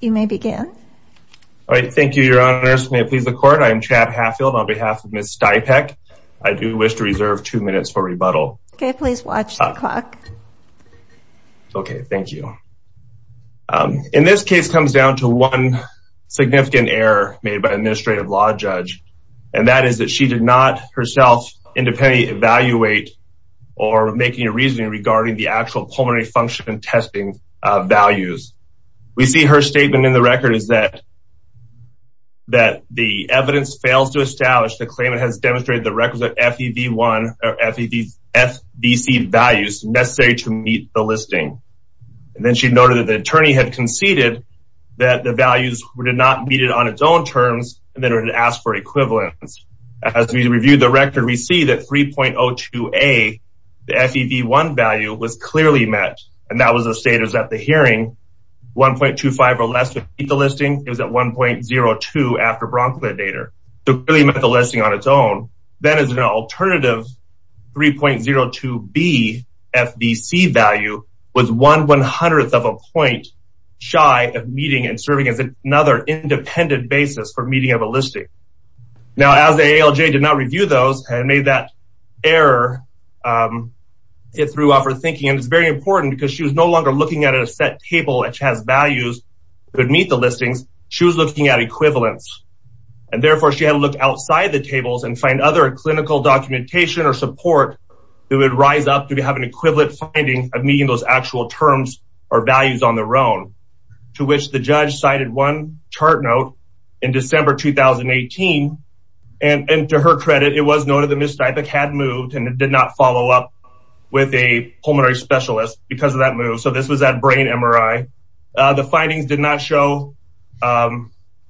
You may begin. All right. Thank you, Your Honors. May it please the court. I am Chad Hatfield on behalf of Ms. Stipek. I do wish to reserve two minutes for rebuttal. Okay, please watch the clock. Okay, thank you. In this case comes down to one significant error made by an administrative law judge, and that is that she did not herself independently evaluate or making a reasoning regarding the actual pulmonary function testing values. We see her statement in the record is that the evidence fails to establish the claimant has demonstrated the records of FEV1 or FEVFDC values necessary to meet the listing. And then she noted that the attorney had conceded that the values were not needed on its own terms, and then asked for equivalence. As we reviewed the record, we see that 3.02A, the FEV1 value was clearly met. And that was the status at the hearing, 1.25 or less to meet the listing. It was at 1.02 after Bronco Data. So clearly met the listing on its own. That is an alternative 3.02B FDC value was one one hundredth of a point shy of meeting and serving as another independent basis for meeting of a listing. Now, as the ALJ did not review those and made that error, it threw off her thinking. And it's very important because she was no longer looking at a set table, which has values that meet the listings. She was looking at equivalence. And therefore, she had to look outside the tables and find other clinical documentation or support that would rise up to have an equivalent finding of meeting those actual terms or values on their own, to which the judge cited one chart note in December 2018. And to her credit, it was noted the mistypic had moved and it did not follow up with a pulmonary specialist because of that move. So this was that brain MRI. The findings did not show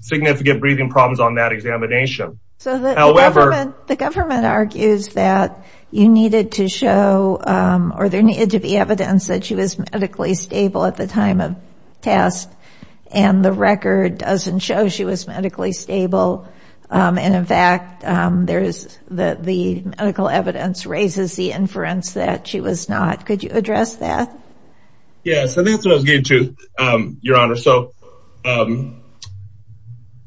significant breathing problems on that examination. So the government argues that you needed to show or there needed to be evidence that she was medically stable at the time of test. And the record doesn't show she was medically stable. And in fact, there is the medical evidence raises the inference that she was not. Could you address that? Yes, I think that's what I was getting to, Your Honor. So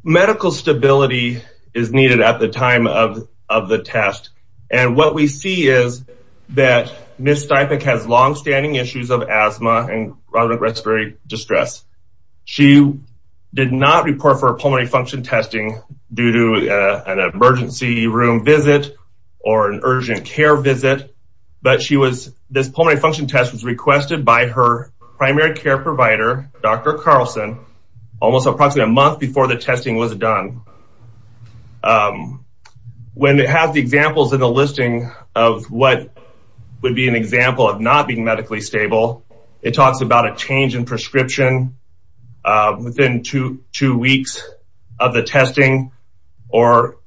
medical stability is needed at the time of the test. And what we see is that mistypic has longstanding issues of asthma and chronic respiratory distress. She did not report for a pulmonary function testing due to an emergency room visit or an urgent care visit. But this pulmonary function test was requested by her primary care provider, Dr. Carlson, almost approximately a month before the testing was done. When it has the examples in the listing of what would be an example of not being medically stable, it talks about a change in prescription within two weeks of the testing or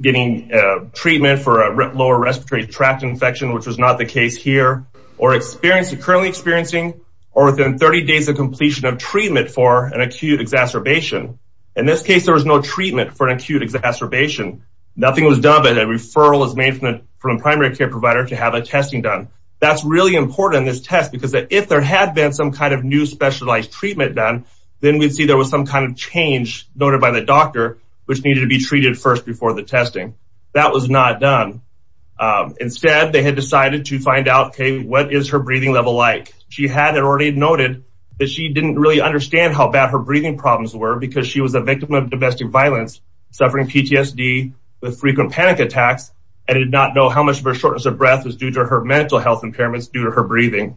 getting treatment for a lower respiratory tract infection, which was not the case here or experiencing currently experiencing or within 30 days of completion of treatment for an acute exacerbation. In this case, there was no treatment for an acute exacerbation. Nothing was done, but a referral is made from a care provider to have a testing done. That's really important in this test because if there had been some kind of new specialized treatment done, then we'd see there was some kind of change noted by the doctor, which needed to be treated first before the testing. That was not done. Instead, they had decided to find out, okay, what is her breathing level like? She had already noted that she didn't really understand how bad her breathing problems were because she was a victim of domestic violence, suffering PTSD with frequent panic attacks and did not know how much of her shortness of breath was due to her mental health impairments due to her breathing.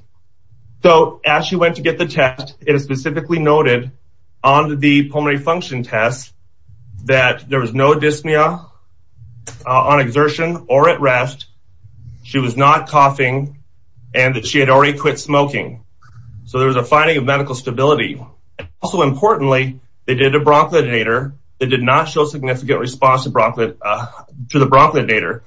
So as she went to get the test, it is specifically noted on the pulmonary function test that there was no dyspnea on exertion or at rest. She was not coughing and that she had already quit smoking. So there was a finding of medical stability. Also importantly, they did a bronchodilator that did not show significant response to the bronchodilator,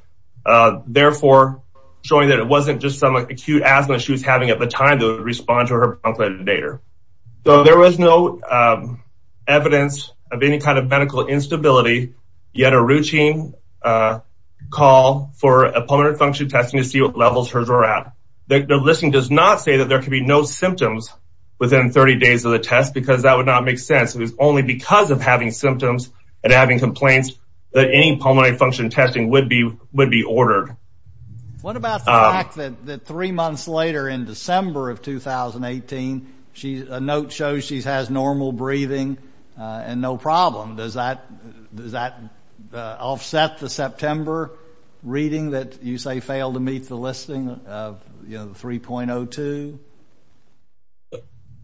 therefore showing that it wasn't just some acute asthma she was having at the time that would respond to her bronchodilator. So there was no evidence of any kind of medical instability, yet a routine call for a pulmonary function testing to see what levels hers were at. The listing does not say that there could be no symptoms within 30 days of the test, because that would not make sense. It was only because of having symptoms and having complaints that any pulmonary function testing would be ordered. What about the fact that three months later in December of 2018, a note shows she has normal breathing and no problem. Does that offset the September reading that you say failed to meet the listing of 3.02?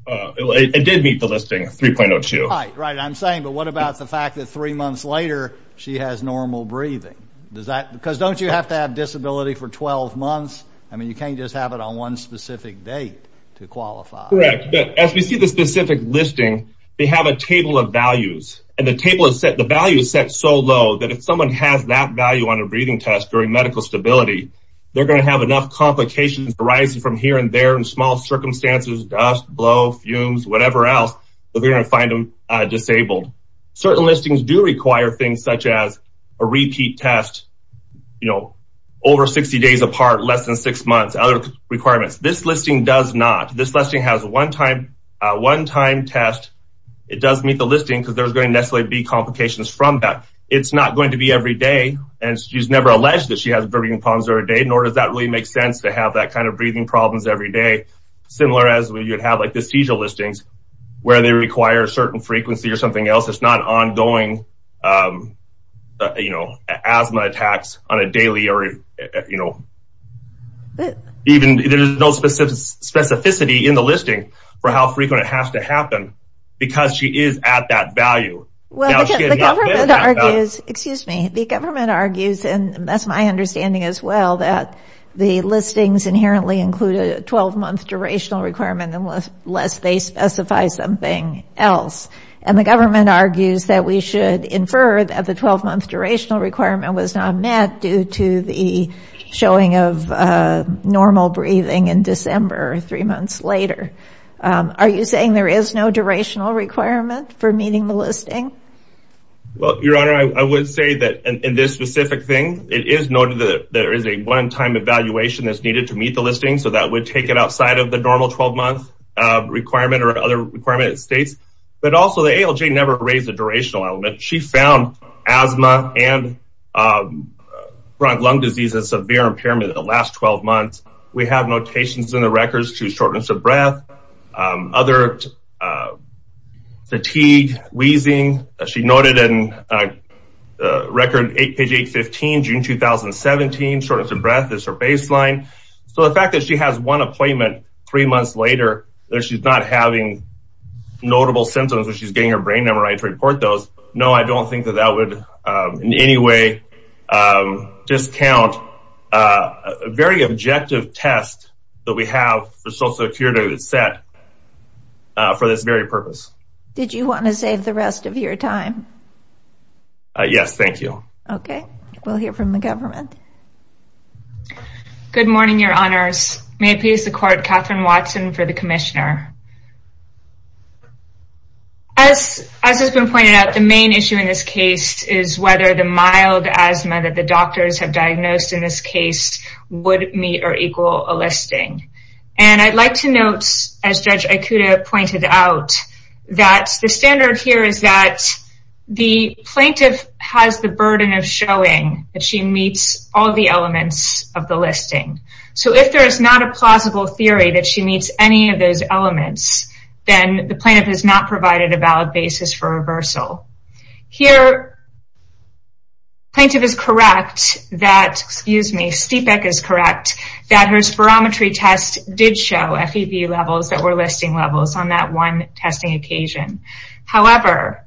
It did meet the listing of 3.02. I'm saying, but what about the fact that three months later she has normal breathing? Don't you have to have disability for 12 months? You can't just have it on one specific date to qualify. As we see the specific listing, they have a table of values. The value is set so low that if someone has that value on a breathing test during medical stability, they're going to have enough complications arising from here and there in small circumstances, dust, blow, fumes, whatever else, that we're going to find them disabled. Certain listings do require things such as a repeat test, you know, over 60 days apart, less than six months, other requirements. This listing does not. This listing has a one-time test. It does meet the listing because there's going to necessarily be complications from that. It's not going to be every day, and she's never alleged that she has breathing problems every day, nor does that really make sense to have that kind of breathing problems every day, similar as when you'd have like the seizure listings where they require a certain frequency or something else. It's not ongoing, you know, asthma attacks on a daily or, you know, even there's no specificity in the listing for how frequent it has to happen because she is at that value. Well, the government argues, excuse me, the government argues, and that's my understanding as well, that the listings inherently include a 12-month durational requirement unless they specify something else, and the government argues that we should infer that the 12-month durational requirement was not met due to the showing of normal breathing in December, three months later. Are you saying there is no durational requirement for meeting the listing? Well, your honor, I would say that in this specific thing, it is noted that there is a one-time evaluation that's needed to meet the listing, so that would take it outside of the normal 12-month requirement or other requirement it states, but also the ALJ never raised the durational element. She found asthma and chronic lung disease and severe impairment in the last 12 months. We have notations in the records to shortness of breath, other fatigue, wheezing. She noted in record page 815, June 2017, shortness of breath is her baseline, so the fact that she has one appointment three months later, that she's not having notable symptoms or she's getting her right to report those, no, I don't think that that would in any way discount a very objective test that we have for social security to set for this very purpose. Did you want to save the rest of your time? Yes, thank you. Okay, we'll hear from the government. Good morning, your honors. May it please the court, Catherine Watson for the commissioner. As has been pointed out, the main issue in this case is whether the mild asthma that the doctors have diagnosed in this case would meet or equal a listing. And I'd like to note, as Judge Ikuda pointed out, that the standard here is that the plaintiff has the burden of showing that she meets all the elements of the listing. So if there is not a plausible theory that she meets any of those elements, then the plaintiff has not provided a valid basis for reversal. Here, plaintiff is correct that, excuse me, Stiepeck is correct, that her spirometry test did show FEV levels that were listing levels on that one testing occasion. However,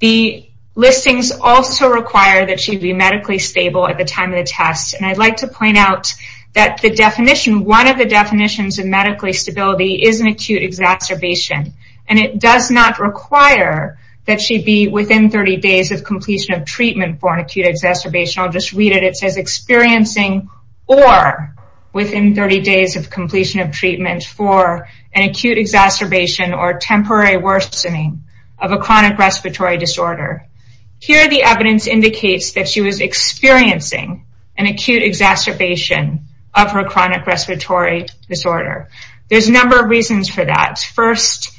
the listings also require that she be medically stable at the time of the test. And I'd like to point out that the definition, one of the definitions, is acute exacerbation. And it does not require that she be within 30 days of completion of treatment for an acute exacerbation. I'll just read it. It says experiencing or within 30 days of completion of treatment for an acute exacerbation or temporary worsening of a chronic respiratory disorder. Here, the evidence indicates that she was experiencing an acute exacerbation of her chronic respiratory disorder. There's a number of reasons for that. First,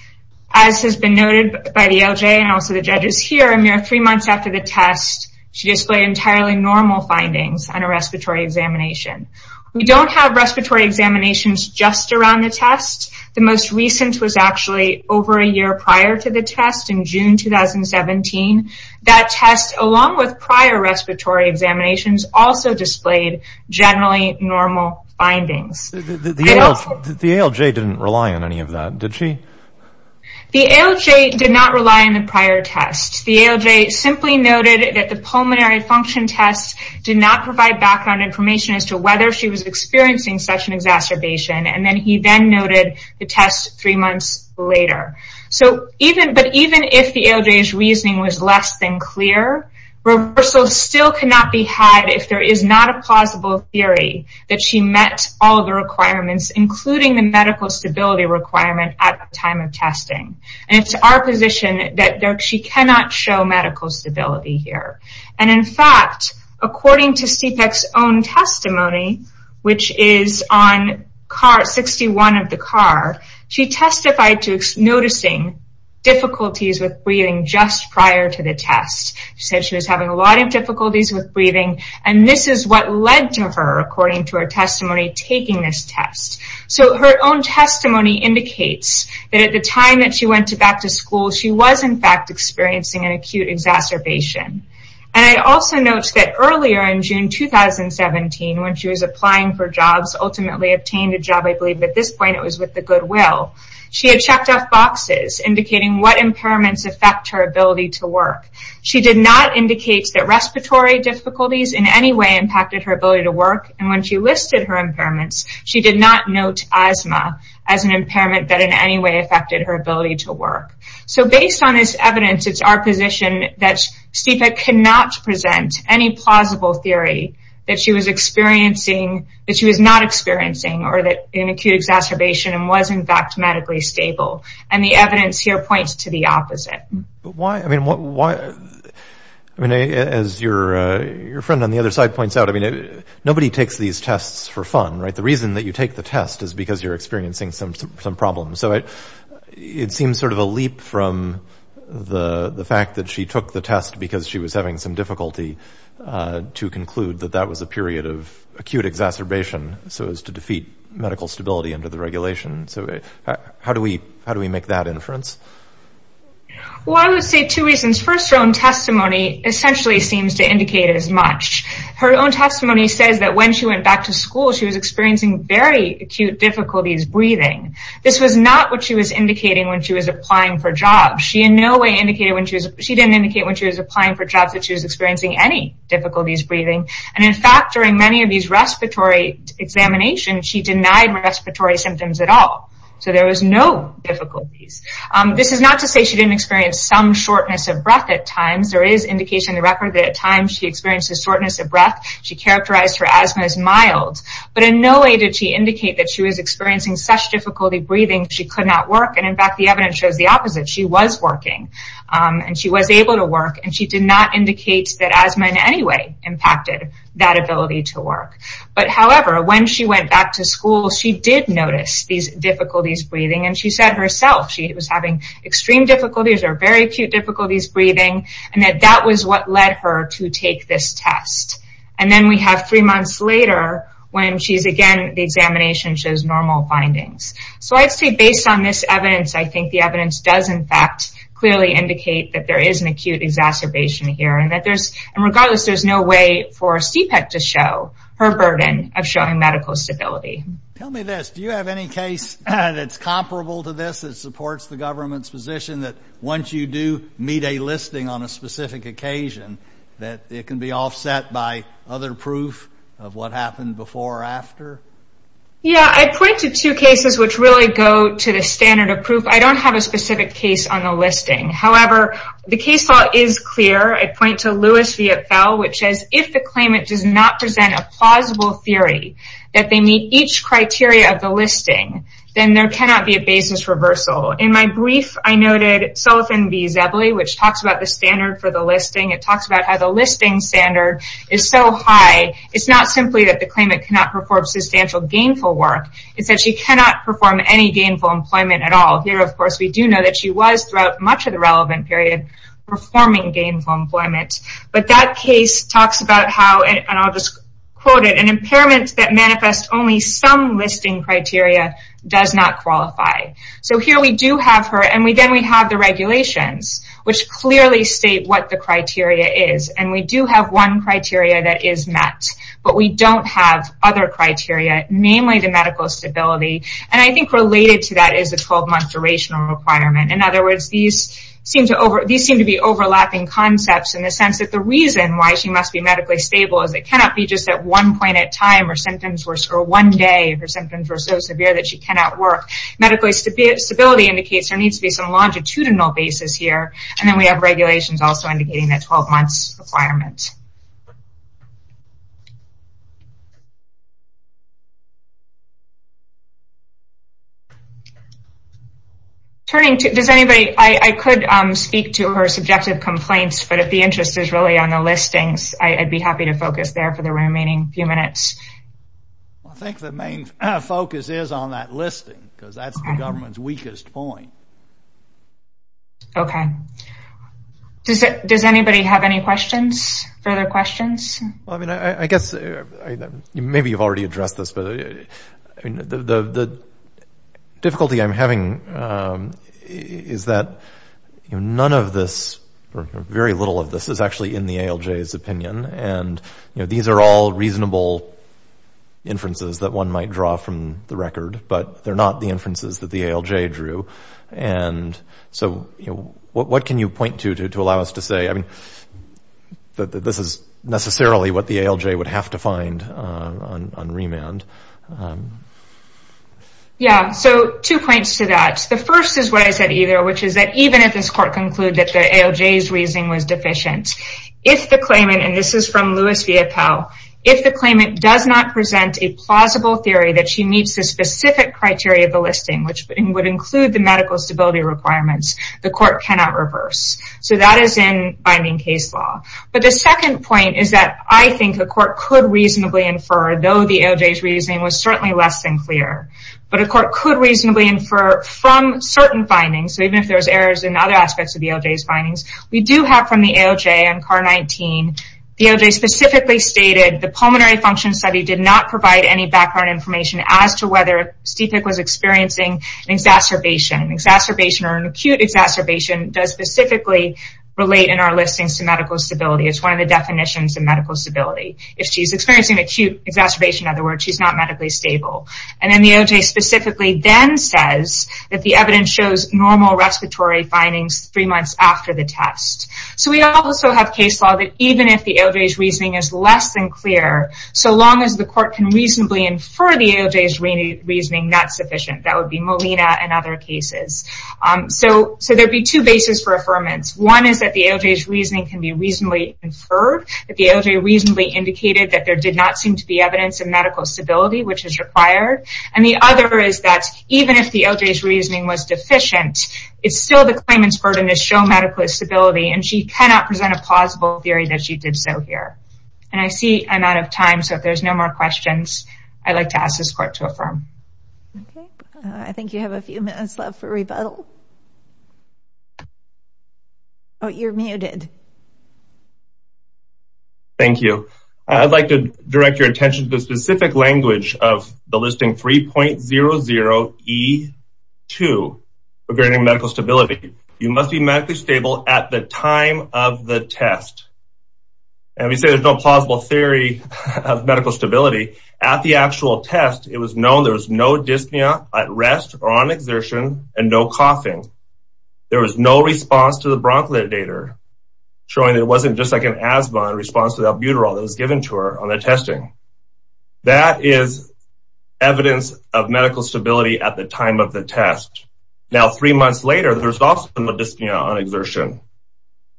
as has been noted by the LJ and also the judges here, a mere three months after the test, she displayed entirely normal findings on a respiratory examination. We don't have respiratory examinations just around the test. The most recent was actually over a year prior to the test in June 2017. That test, along with prior respiratory examinations, also displayed generally normal findings. The ALJ didn't rely on any of that, did she? The ALJ did not rely on the prior test. The ALJ simply noted that the pulmonary function test did not provide background information as to whether she was experiencing such an exacerbation. And then he then noted the test three months later. But even if the ALJ's reasoning was less than clear, reversal still cannot be had if there is not a plausible theory that she met all the requirements, including the medical stability requirement at the time of testing. And it's our position that she cannot show medical stability here. And in fact, according to CPEC's own testimony, which is on card 61 of the card, she testified to noticing difficulties with breathing just prior to the test. She said she was having a lot of difficulties with breathing, and this is what led to her, according to her testimony, taking this test. So her own testimony indicates that at the time that she went back to school, she was in fact experiencing an acute exacerbation. And I also note that earlier in June 2017, when she was applying for jobs, ultimately obtained a job, I believe at this point it was with the goodwill, she had checked off boxes indicating what impairments affect her ability to work. She did not indicate that respiratory difficulties in any way impacted her ability to work. And when she listed her impairments, she did not note asthma as an impairment that in any way affected her ability to work. So based on this evidence, it's our position that CPEC cannot present any plausible theory that she was experiencing, that she was not experiencing, or that an acute exacerbation was in fact medically stable. And the evidence here points to the opposite. But why, I mean, as your friend on the other side points out, I mean, nobody takes these tests for fun, right? The reason that you take the test is because you're experiencing some problems. So it seems sort of a leap from the fact that she took the test because she was having some difficulty to conclude that that was a period of acute exacerbation, so as to defeat medical stability under the regulation. So how do we make that inference? Well, I would say two reasons. First, her own testimony essentially seems to indicate as much. Her own testimony says that when she went back to school, she was experiencing very acute difficulties breathing. This was not what she was indicating when she was applying for jobs. She in no way indicated when she was, she didn't indicate when she was applying for jobs that she was experiencing any difficulties breathing. And in fact, during many of these respiratory examinations, she denied respiratory symptoms at all. So there was no difficulties. This is not to say she didn't experience some shortness of breath at times. There is indication in the record that at times she experienced a shortness of breath. She characterized her asthma as mild. But in no way did she indicate that she was experiencing such difficulty breathing, she could not work. And in fact, the evidence shows the opposite. She was working and she was able to work and she did not indicate that asthma in any way impacted that ability to work. However, when she went back to school, she did notice these difficulties breathing. And she said herself, she was having extreme difficulties or very acute difficulties breathing. And that that was what led her to take this test. And then we have three months later, when she's again, the examination shows normal findings. So I'd say based on this evidence, I think the evidence does in fact, clearly indicate that there is an acute exacerbation here. And that there's, and regardless, there's no way for CPEC to show her burden of showing medical stability. Tell me this, do you have any case that's comparable to this that supports the government's position that once you do meet a listing on a specific occasion, that it can be offset by other proof of what happened before or after? Yeah, I pointed to cases which really go to the standard of proof. I don't have a specific case on the listing. However, the case law is clear. I point to Lewis v. Epfel, which says, if the claimant does not present a plausible theory that they meet each criteria of the listing, then there cannot be a basis reversal. In my brief, I noted Sullivan v. Zebley, which talks about the standard for the listing. It talks about how the listing standard is so high. It's not simply that the claimant cannot perform substantial gainful work. It's that she cannot perform any gainful employment at all. Here, of course, we do know she was, throughout much of the relevant period, performing gainful employment. That case talks about how, and I'll just quote it, an impairment that manifests only some listing criteria does not qualify. Here, we do have her, and then we have the regulations, which clearly state what the criteria is. We do have one criteria that is met, but we don't have other criteria, namely the employment. In other words, these seem to be overlapping concepts in the sense that the reason why she must be medically stable is it cannot be just at one point at time or one day if her symptoms were so severe that she cannot work. Medically, stability indicates there needs to be some longitudinal basis here, and then we have regulations also indicating that 12 months requirements. Turning to, does anybody, I could speak to her subjective complaints, but if the interest is really on the listings, I'd be happy to focus there for the remaining few minutes. I think the main focus is on that listing because that's the government's weakest point. Okay. Does anybody have any questions, further questions? Well, I mean, I guess maybe you've already addressed this, but the difficulty I'm having is that none of this, or very little of this, is actually in the ALJ's opinion, and these are all reasonable inferences that one might draw from the record, but they're not the inferences that so what can you point to, to allow us to say, I mean, this is necessarily what the ALJ would have to find on remand? Yeah, so two points to that. The first is what I said, either, which is that even if this court concluded that the ALJ's reasoning was deficient, if the claimant, and this is from Louis Villapelle, if the claimant does not present a plausible theory that she meets the specific criteria of requirements, the court cannot reverse. So that is in binding case law. But the second point is that I think a court could reasonably infer, though the ALJ's reasoning was certainly less than clear, but a court could reasonably infer from certain findings, so even if there's errors in other aspects of the ALJ's findings, we do have from the ALJ on CAR-19, the ALJ specifically stated the pulmonary function study did not provide any background information as to whether Stiefik was experiencing exacerbation. Exacerbation or an acute exacerbation does specifically relate in our listings to medical stability. It's one of the definitions of medical stability. If she's experiencing acute exacerbation, in other words, she's not medically stable. And then the ALJ specifically then says that the evidence shows normal respiratory findings three months after the test. So we also have case law that even if the ALJ's reasoning is less than clear, so long as the court can reasonably infer the ALJ's reasoning, that's sufficient. That would be Molina and other cases. So there'd be two bases for affirmance. One is that the ALJ's reasoning can be reasonably inferred, that the ALJ reasonably indicated that there did not seem to be evidence of medical stability, which is required. And the other is that even if the ALJ's reasoning was deficient, it's still the claimant's burden to medical stability, and she cannot present a plausible theory that she did so here. And I see I'm out of time, so if there's no more questions, I'd like to ask this court to affirm. I think you have a few minutes left for rebuttal. Oh, you're muted. Thank you. I'd like to direct your attention to the specific language of the listing 3.00E2 regarding medical stability. You must be medically stable at the time of the test. And we say there's no plausible theory of medical stability. At the actual test, it was known there was no dyspnea at rest or on exertion and no coughing. There was no response to the bronchodilator, showing it wasn't just like an asthma in response to the albuterol that was given to her on the testing. That is evidence of medical stability at the time of the test. Now, three months later, there's also been a dyspnea on exertion.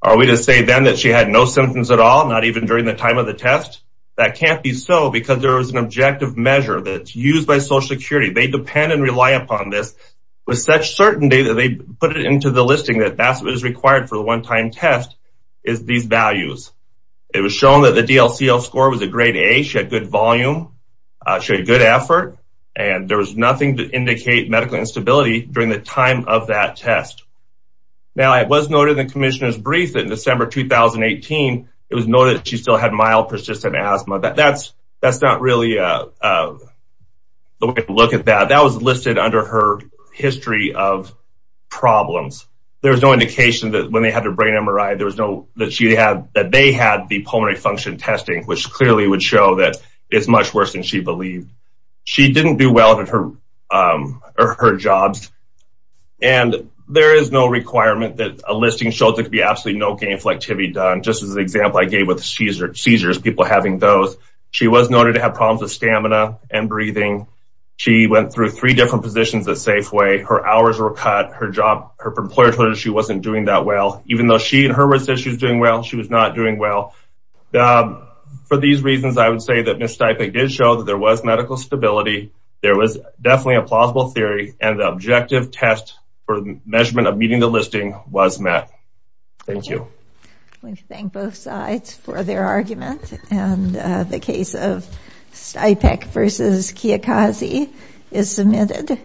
Are we to say then that she had no symptoms at all, not even during the time of the test? That can't be so because there was an objective measure that's used by Social Security. They depend and rely upon this with such certainty that they put it into the listing that that's what is required for the one-time test is these values. It was shown that the DLCL score was a grade A, she had good volume, she had good effort, and there was nothing to indicate medical instability during the time of that test. Now, it was noted in the commissioner's brief that in December 2018, it was noted that she still had mild persistent asthma, but that's not really the way to look at that. That was listed under her history of problems. There was no indication that when they had their brain MRI, there was no that she had that they had the pulmonary function testing, which clearly would show that it's much worse than she believed. She didn't do well at her jobs. And there is no requirement that a listing show that could be absolutely no gainful activity done. Just as an example, I gave with seizures, people having those, she was noted to have problems with stamina and breathing. She went through three different positions at Safeway, her hours were cut, her job, her employer told her she wasn't doing that well, even though she said she was doing well, she was not doing well. For these reasons, I would say that Ms. Stipek did show that there was medical stability, there was definitely a plausible theory, and the objective test for the measurement of meeting the listing was met. Thank you. We thank both sides for their argument, and the case of Stipek versus Kiyokaze is submitted.